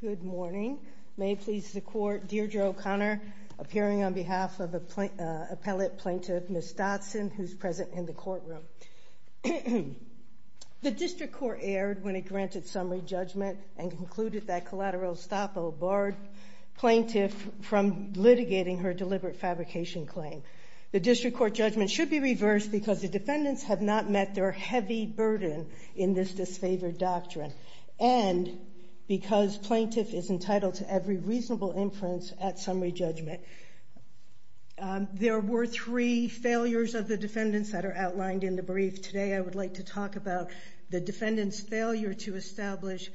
Good morning. May it please the Court, Dear Joe O'Connor, appearing on behalf of Appellate Plaintiff Ms. Dodson, who is present in the courtroom. The District Court erred when it granted summary judgment and concluded that collateral estoppel barred plaintiff from litigating her deliberate fabrication claim. The District Court judgment should be reversed because the defendants have not met their heavy burden in this disfavored doctrine and because plaintiff is entitled to every reasonable inference at summary judgment. There were three failures of the defendants that are outlined in the brief. Today I would like to talk about the defendant's failure to establish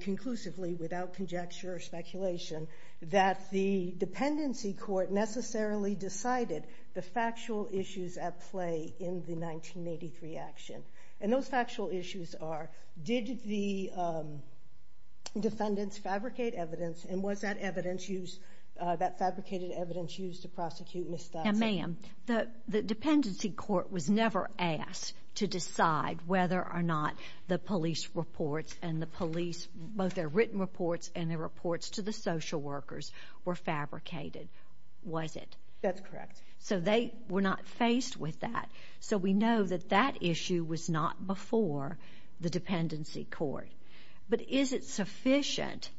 conclusively without conjecture or speculation that the dependency court necessarily decided the factual issues at play in the 1983 action. And those factual issues are, did the defendants fabricate evidence and was that evidence used, that fabricated evidence used to prosecute Ms. Dodson? Now ma'am, the dependency court was never asked to decide whether or not the police reports and the police, both their written reports and their reports to the social workers were fabricated, was it? That's correct. So they were not faced with that. So we know that that issue was not before the dependency court. But is it sufficient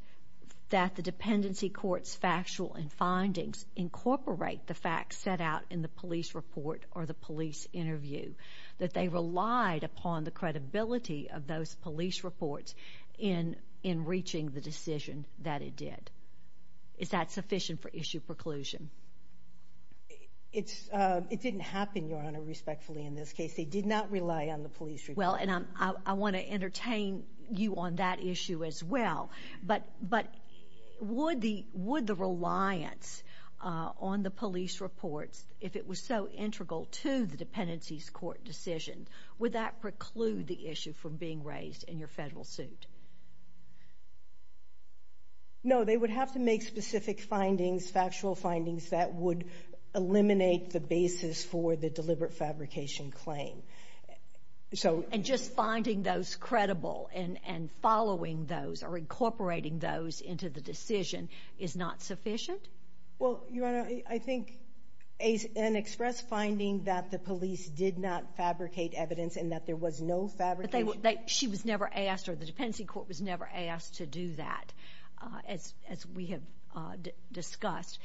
that the dependency court's factual and findings incorporate the facts set out in the police report or the police interview, that they relied upon the police reports in reaching the decision that it did? Is that sufficient for issue preclusion? It didn't happen, Your Honor, respectfully in this case. They did not rely on the police report. Well, and I want to entertain you on that issue as well. But would the reliance on the police reports, if it was so integral to the dependency's court decision, would that preclude the issue from being raised in your federal suit? No, they would have to make specific findings, factual findings that would eliminate the basis for the deliberate fabrication claim. And just finding those credible and following those or incorporating those into the decision is not sufficient? Well, Your Honor, I think an express finding that the police did not fabricate evidence and that there was no fabrication. She was never asked or the dependency court was never asked to do that, as we have discussed.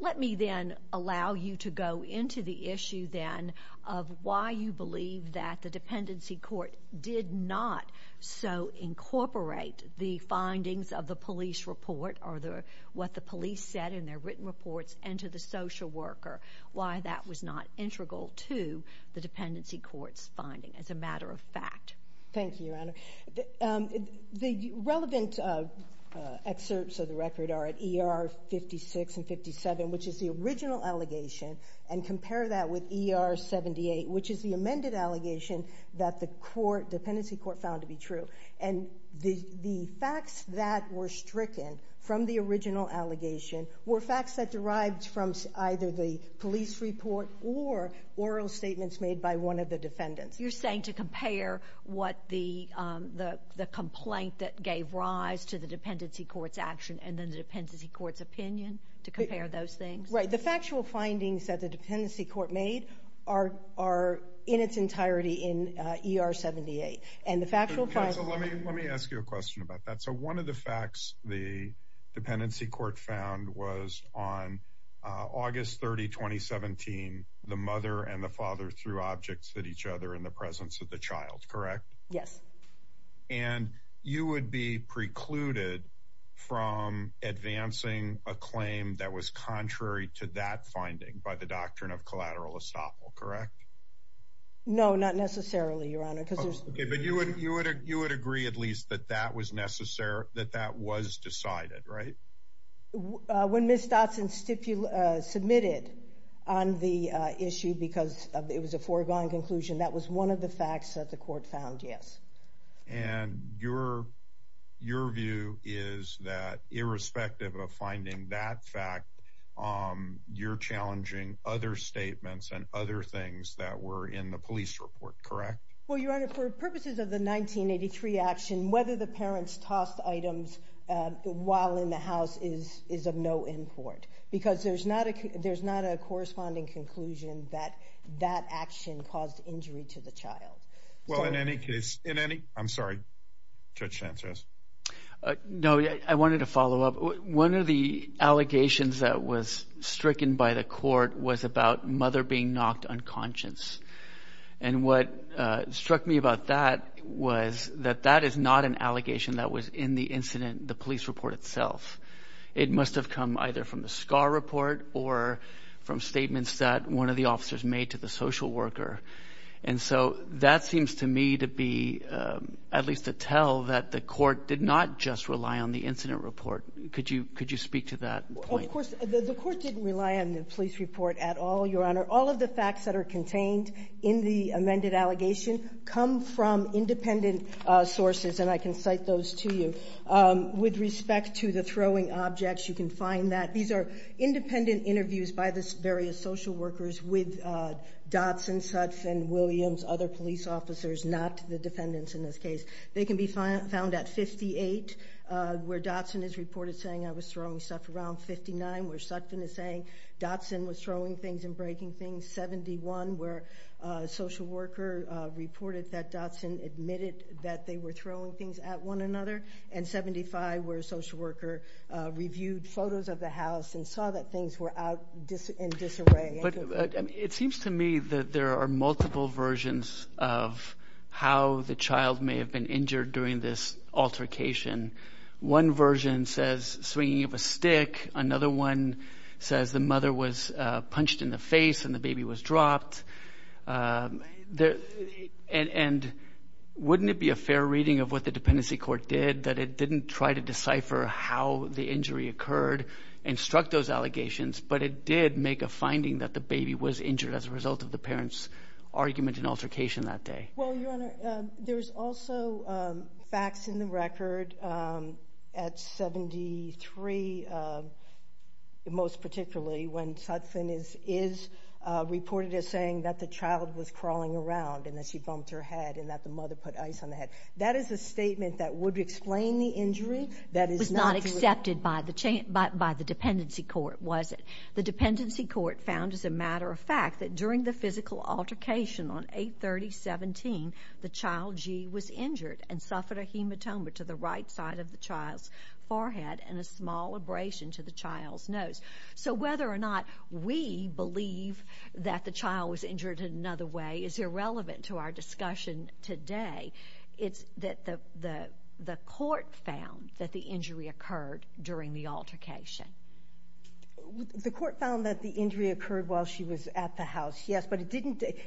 Let me then allow you to go into the issue then of why you believe that the dependency court did not so incorporate the findings of the police report or what the police said in their written reports and to the social worker, why that was not integral to the dependency court's finding as a matter of fact. Thank you, Your Honor. The relevant excerpts of the record are at ER 56 and 57, which is the original allegation, and compare that with ER 78, which is the amended allegation that the court, dependency court, found to be true. And the facts that were stricken from the original allegation were facts that derived from either the police report or oral statements made by one of the defendants. You're saying to compare what the complaint that gave rise to the dependency court's action and then the dependency court's opinion to compare those things? Right. The factual findings that the dependency court made are in its entirety in ER 78. And the factual findings... Counsel, let me ask you a question about that. So one of the facts the dependency court found was on August 30, 2017, the mother and the father threw objects at each other in the presence of the child, correct? Yes. And you would be precluded from advancing a claim that was contrary to that finding by the doctrine of collateral estoppel, correct? No, not necessarily, Your Honor, because there's... Okay, but you would agree at least that that was necessary, that that was decided, right? When Ms. Dotson submitted on the issue because it was a foregone conclusion, that was one of the facts that the court found, yes. And your view is that irrespective of finding that fact, you're challenging other statements and other things that were in the police report, correct? Well, Your Honor, for purposes of the 1983 action, whether the parents tossed items while in the house is of no import, because there's not a corresponding conclusion that that action caused injury to the child. Well, in any case, in any... I'm sorry, Judge Sanchez. No, I wanted to follow up. One of the allegations that was stricken by the court was about mother being knocked unconscious. And what struck me about that was that that is not an allegation that was in the incident, the police report itself. It must have come either from the SCAR report or from statements that one of the officers made to the social worker. And so that seems to me to be, at least to tell, that the court did not just rely on the incident report. Could you speak to that point? The court didn't rely on the police report at all, Your Honor. All of the facts that are contained in the amended allegation come from independent sources, and I can cite those to you. With respect to the throwing objects, you can find that. These are independent interviews by the various social workers with Dotson, Suts and Williams, other police officers, not the defendants in this case. They can be found at 58, where Dotson is reported saying I was throwing stuff, around 59, where Sutton is saying Dotson was throwing things and breaking things, 71, where a social worker reported that Dotson admitted that they were throwing things at one another, and 75, where a social worker reviewed photos of the house and saw that things were out in disarray. It seems to me that there are multiple versions of how the child may have been injured during this altercation. One version says swinging of a stick. Another one says the mother was punched in the face and the baby was dropped. And wouldn't it be a fair reading of what the dependency court did, that it didn't try to decipher how the injury occurred and struck those allegations, but it did make a finding that the baby was injured as a result of the parents' argument and altercation that day? Well, Your Honor, there's also facts in the record at 73, most particularly, when Sutton is reported as saying that the child was crawling around and that she bumped her head and that the mother put ice on the head. That is a statement that would explain the injury. That was not accepted by the dependency court, was it? The dependency court found, as a matter of fact, that during the physical altercation on 8-30-17, the child, G, was injured and suffered a hematoma to the right side of the child's forehead and a small abrasion to the child's nose. So whether or not we believe that the child was injured in another way is irrelevant to our discussion today. It's that the court found that the injury occurred during the altercation. The court found that the injury occurred while she was at the house, yes, but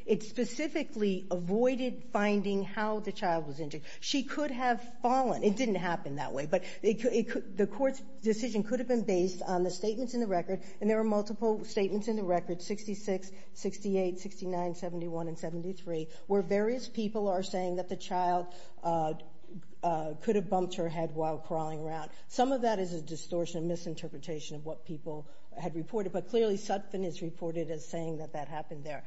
it specifically avoided finding how the child was injured. She could have fallen. It didn't happen that way, but the court's decision could have been based on the statements in the record, and there were multiple statements in the record, 66, 68, 69, 71, and 73, where various people are saying that the child could have bumped her head while crawling around. Some of that is a distortion, a misinterpretation of what people had reported, but clearly Sutphin is reported as saying that that happened there.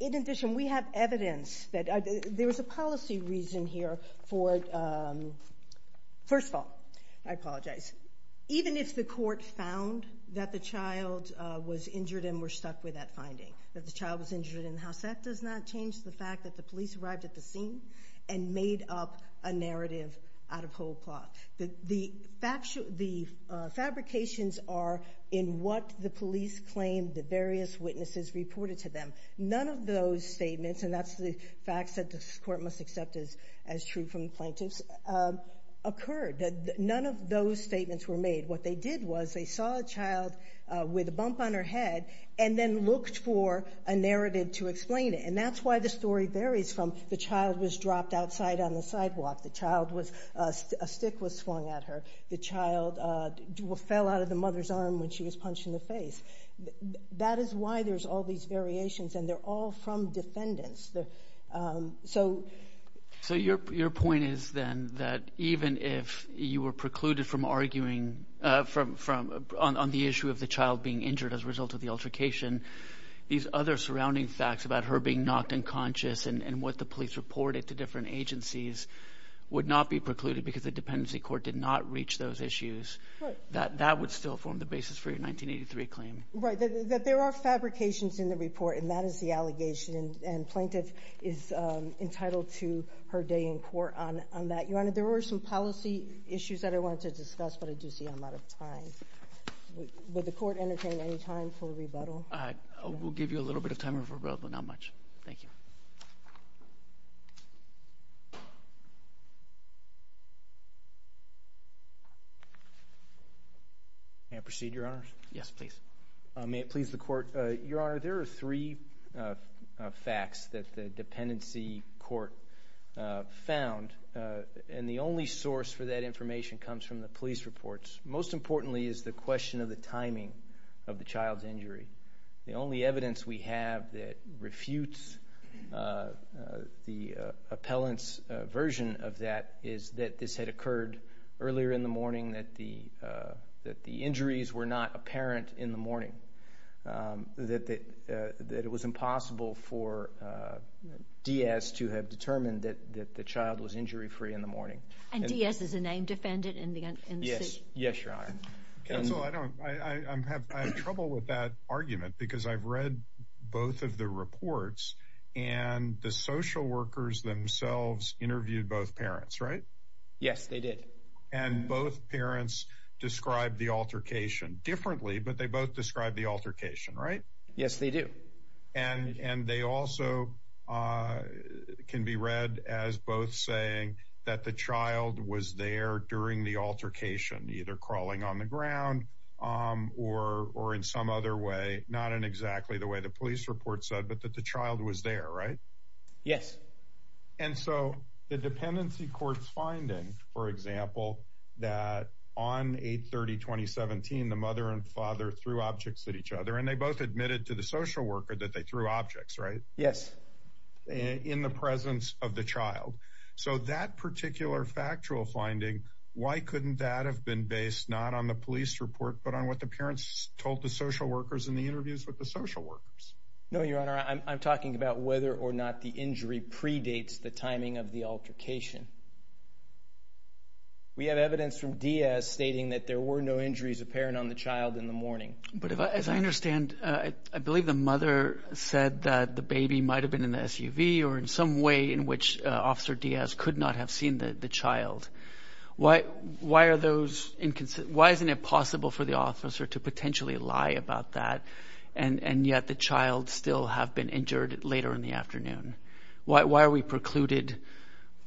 In addition, we have evidence that there was a policy reason here for, first of all, I apologize, even if the court found that the child was injured and were stuck with that finding, that the child was injured in the house, that does not change the fact that the police arrived at the scene and made up a narrative out of whole cloth. The fabrications are in what the police claimed that various witnesses reported to them. None of those statements, and that's the fact that this court must accept as true from the plaintiffs, occurred. None of those statements were made. What they did was they saw a child with a bump on her head and then looked for a narrative to explain it. That's why the story varies from the child was dropped outside on the sidewalk, a stick was flung at her, the child fell out of the mother's arm when she was punched in the face. That is why there's all these variations, and they're all from defendants. Your point is then that even if you were precluded from arguing on the issue of the child being knocked unconscious and what the police reported to different agencies would not be precluded because the dependency court did not reach those issues, that would still form the basis for your 1983 claim. There are fabrications in the report, and that is the allegation, and plaintiff is entitled to her day in court on that. Your Honor, there were some policy issues that I wanted to discuss, but I do see I'm out of time. Will the court entertain any time for rebuttal? We'll give you a little bit of time for rebuttal, not much. Thank you. May I proceed, Your Honor? Yes, please. May it please the court. Your Honor, there are three facts that the dependency court found, and the only source for that information comes from the police reports. Most importantly is the question of the timing of the child's injury. The only evidence we have that refutes the appellant's version of that is that this had occurred earlier in the morning, that the injuries were not apparent in the morning, that it was impossible for Diaz to have determined that the child was injury-free in the morning. And Diaz is a named defendant in the suit? Yes, Your Honor. Counsel, I have trouble with that argument, because I've read both of the reports, and the social workers themselves interviewed both parents, right? Yes, they did. And both parents described the altercation differently, but they both described the altercation, right? Yes, they do. And they also can be read as both saying that the child was there during the altercation, either crawling on the ground, or in some other way, not in exactly the way the police report said, but that the child was there, right? Yes. And so the dependency court's finding, for example, that on 8-30-2017, the mother and father threw objects at each other, and they both admitted to the social worker that they threw objects, right? Yes. In the presence of the child. So that particular factual finding, why couldn't that have been based not on the police report, but on what the parents told the social workers in the interviews with the social workers? No, Your Honor. I'm talking about whether or not the injury predates the timing of the altercation. We have evidence from Diaz stating that there were no injuries apparent on the child in the morning. But as I understand, I believe the mother said that the baby might have been in the SUV, or in some way in which Officer Diaz could not have seen the child. Why are those Why isn't it possible for the officer to potentially lie about that, and yet the child still have been injured later in the afternoon? Why are we precluded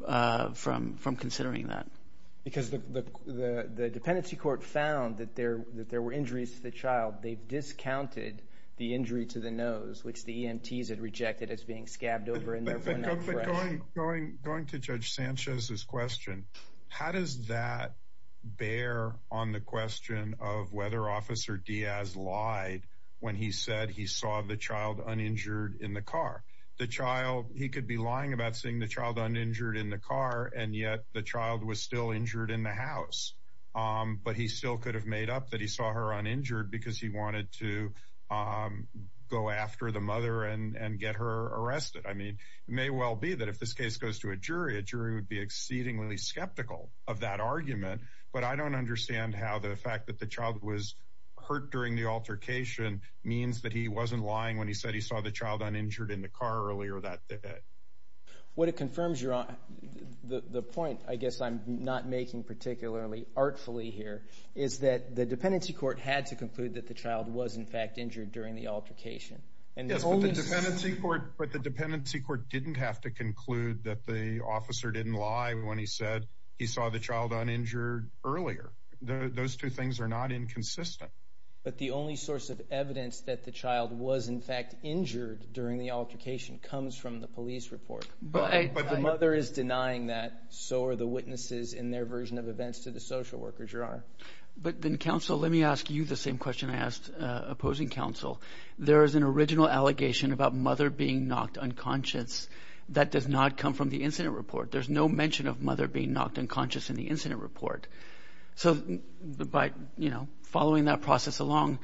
from considering that? Because the dependency court found that there were injuries to the child. They've discounted the injury to the nose, which the EMTs had rejected as being scabbed over, and therefore not fresh. Going to Judge Sanchez's question, how does that bear on the question of whether Officer Diaz lied when he said he saw the child uninjured in the car? The child, he could be lying about seeing the child uninjured in the car, and yet the child was still injured in the house. But he still could have made up that he saw her uninjured because he wanted to go after the mother and get her arrested. I mean, it may well be that if this case goes to a jury, a jury would be exceedingly skeptical of that argument, but I don't understand how the fact that the child was hurt during the altercation means that he wasn't lying when he said he saw the child uninjured in the car earlier that day. What it confirms, Your Honor, the point I guess I'm not making particularly artfully here is that the dependency court had to conclude that the child was in fact injured during the altercation. Yes, but the dependency court didn't have to conclude that the officer didn't lie when he said he saw the child uninjured earlier. Those two things are not inconsistent. But the only source of evidence that the child was in fact injured during the altercation comes from the police report. But I... The mother is denying that. So are the witnesses in their version of events to the social workers, Your Honor. But then, counsel, let me ask you the same question I asked opposing counsel. There is an original allegation about mother being knocked unconscious. That does not come from the incident report. There's no mention of mother being knocked unconscious in the incident report. So by, you know, following that process along,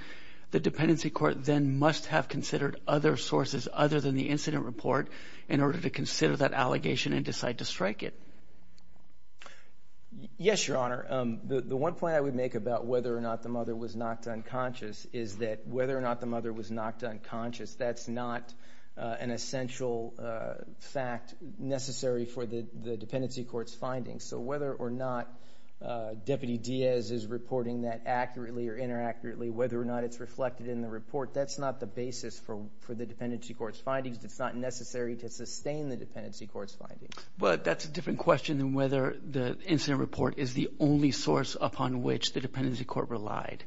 the dependency court then must have considered other sources other than the incident report in order to consider that allegation and decide to strike it. Yes, Your Honor. The one point I would make about whether or not the mother was knocked unconscious is that whether or not the mother was knocked unconscious, that's not an essential fact necessary for the dependency court's findings. So whether or not Deputy Diaz is reporting that accurately or inaccurately, whether or not it's reflected in the report, that's not the basis for the dependency court's findings. It's not necessary to sustain the dependency court's findings. Well, that's a different question than whether the incident report is the only source upon which the dependency court relied.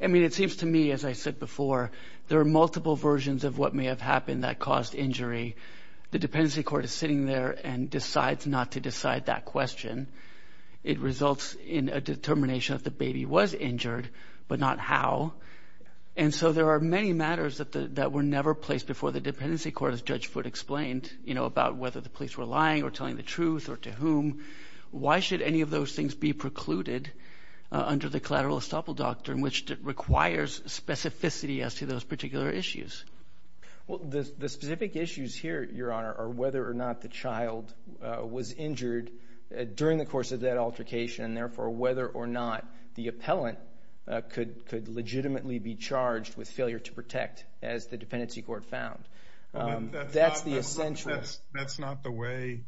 I mean, it seems to me, as I said before, there are multiple versions of what may have happened that caused injury. The dependency court is sitting there and decides not to decide that question. It results in a determination that the baby was injured, but not how. And so there are many matters that were never placed before the dependency court, as Judge Foote explained, you know, about whether the police were lying or telling the truth or to whom. Why should any of those things be precluded under the collateral estoppel doctrine, which requires specificity as to those particular issues? Well, the specific issues here, Your Honor, are whether or not the child was injured during the course of that altercation and therefore whether or not the appellant could legitimately be charged with failure to protect, as the dependency court found. That's the essential. That's not the way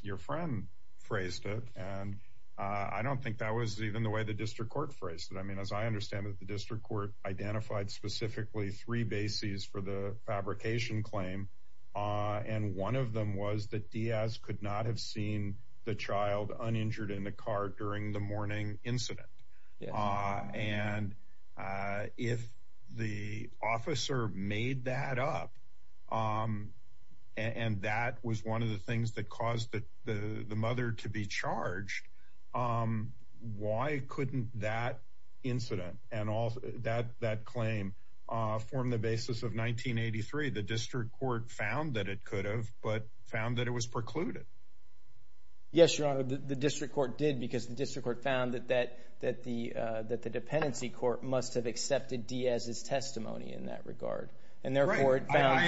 your friend phrased it, and I don't think that was even the way the district court phrased it. I mean, as I understand it, the district court identified specifically three bases for the fabrication claim, and one of them was that Diaz could not have seen the child uninjured in the car during the morning incident. And if the officer made that up, and that was one of the things that caused the mother to be charged, why couldn't that incident and that claim form the basis of 1983? The district court found that it could have, but found that it was precluded. Yes, Your Honor, the district court did because the district court found that the dependency court must have accepted Diaz's testimony in that regard, and therefore it found...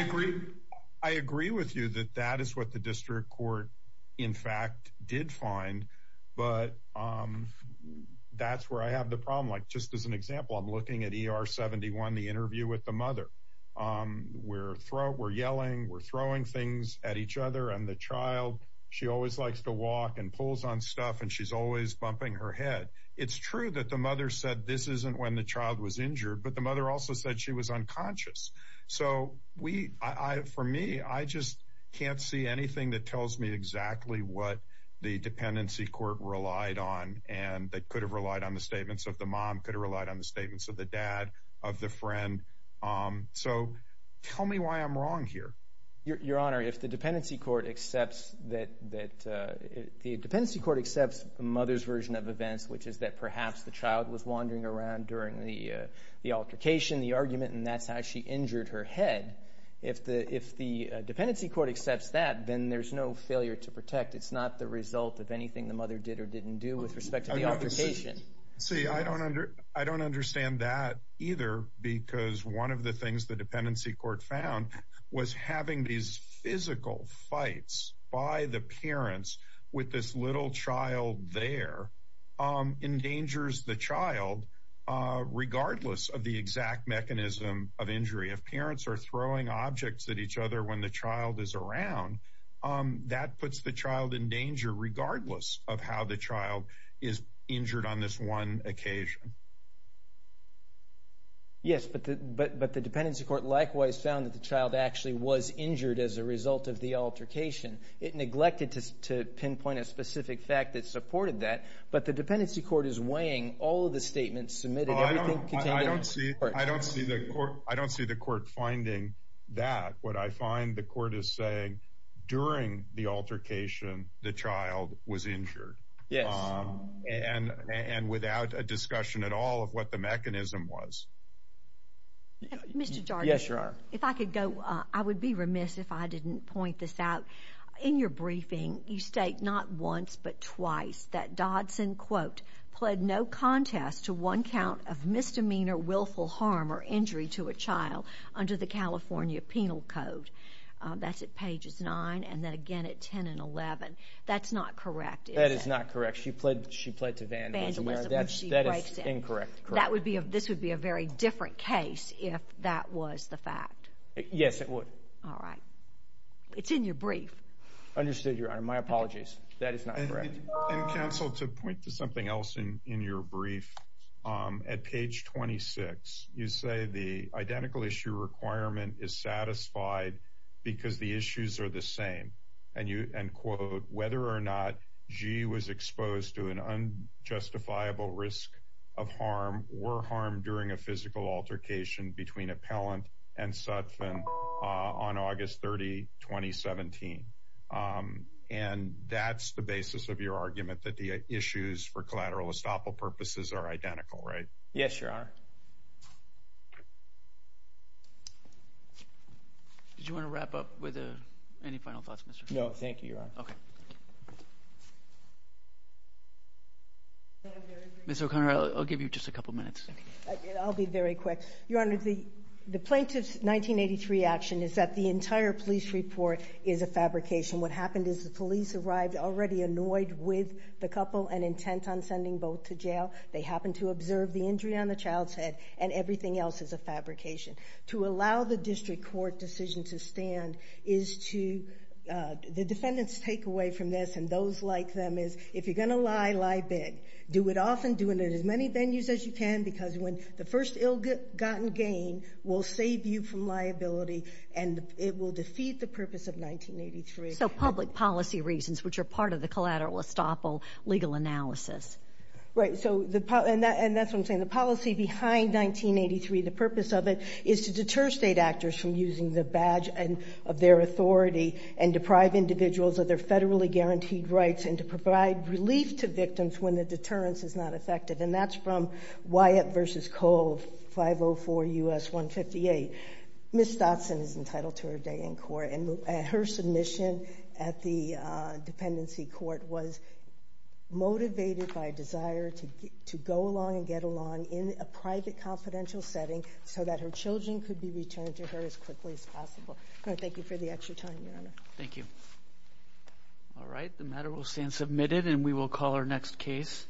I agree with you that that is what the district court, in fact, did find, but that's where I have the problem. Like, just as an example, I'm looking at ER 71, the interview with the family, and the mother and the father are looking at each other and the child, she always likes to walk and pulls on stuff, and she's always bumping her head. It's true that the mother said this isn't when the child was injured, but the mother also said she was unconscious. So we, for me, I just can't see anything that tells me exactly what the dependency court relied on, and that could have relied on the statements of the mom, could have relied on the statements of the dad, of the friend. So tell me why I'm wrong here. Your Honor, if the dependency court accepts that the dependency court accepts the mother's version of events, which is that perhaps the child was wandering around during the altercation, the argument, and that's how she injured her head, if the dependency court accepts that, then there's no failure to protect. It's not the result of anything the mother did or didn't do with respect to the altercation. See, I don't understand that either, because one of the things the dependency court found was having these physical fights by the parents with this little child there endangers the child regardless of the exact mechanism of injury. If parents are throwing objects at each other when the child is around, that puts the child in danger regardless of how the child is injured on this one occasion. Yes, but the dependency court likewise found that the child actually was injured as a result of the altercation. It neglected to pinpoint a specific fact that supported that, but the dependency court is weighing all of the statements submitted, everything contained in the court. I don't see the court finding that. What I find the court is saying, during the altercation the child was injured, and without a discussion at all of what the mechanism was. Mr. Dargan, if I could go, I would be remiss if I didn't point this out. In your briefing, you state not once, but twice, that Dodson, quote, pled no contest to one count of misdemeanor willful harm or injury to a child under the California Penal Code. That's at pages 9, and then again at 10 and 11. That's not correct, is it? That is not correct. She pled to Van, that is incorrect. This would be a very different case if that was the fact. Yes, it would. All right. It's in your brief. Understood, Your Honor. My apologies. That is not correct. And counsel, to point to something else in your brief, at page 26, you say the identical issue requirement is satisfied because the issues are the same. And you, and quote, whether or not Gee was exposed to an unjustifiable risk of harm or harm during a physical altercation between Appellant and Sutphin on August 30, 2017. And that's the basis of your argument that the issues for collateral estoppel purposes are identical, right? Yes, Your Honor. Did you want to wrap up with any final thoughts, Mr. O'Connor? No, thank you, Your Honor. Okay. Ms. O'Connor, I'll give you just a couple minutes. I'll be very quick. Your Honor, the plaintiff's 1983 action is that the entire police report is a fabrication. What happened is the police arrived already annoyed with the couple and were intent on sending both to jail. They happened to observe the injury on the child's head, and everything else is a fabrication. To allow the district court decision to stand is to, the defendant's takeaway from this and those like them is, if you're going to lie, lie big. Do it often, do it in as many venues as you can, because when the first ill-gotten gain will save you from liability, and it will defeat the purpose of 1983. So public policy reasons, which are part of the collateral estoppel legal analysis. Right. So, and that's what I'm saying. The policy behind 1983, the purpose of it is to deter State actors from using the badge of their authority and deprive individuals of their federally guaranteed rights and to provide relief to victims when the deterrence is not effective. And that's from Wyatt v. Cole, 504 U.S. 158. Ms. Stotson is entitled to her day in court, and her submission at the dependency court was motivated by a desire to go along and get along in a private confidential setting so that her children could be returned to her as quickly as possible. Thank you for the extra time, Your Honor. Thank you. All right, the matter will stand submitted, and we will call our next case.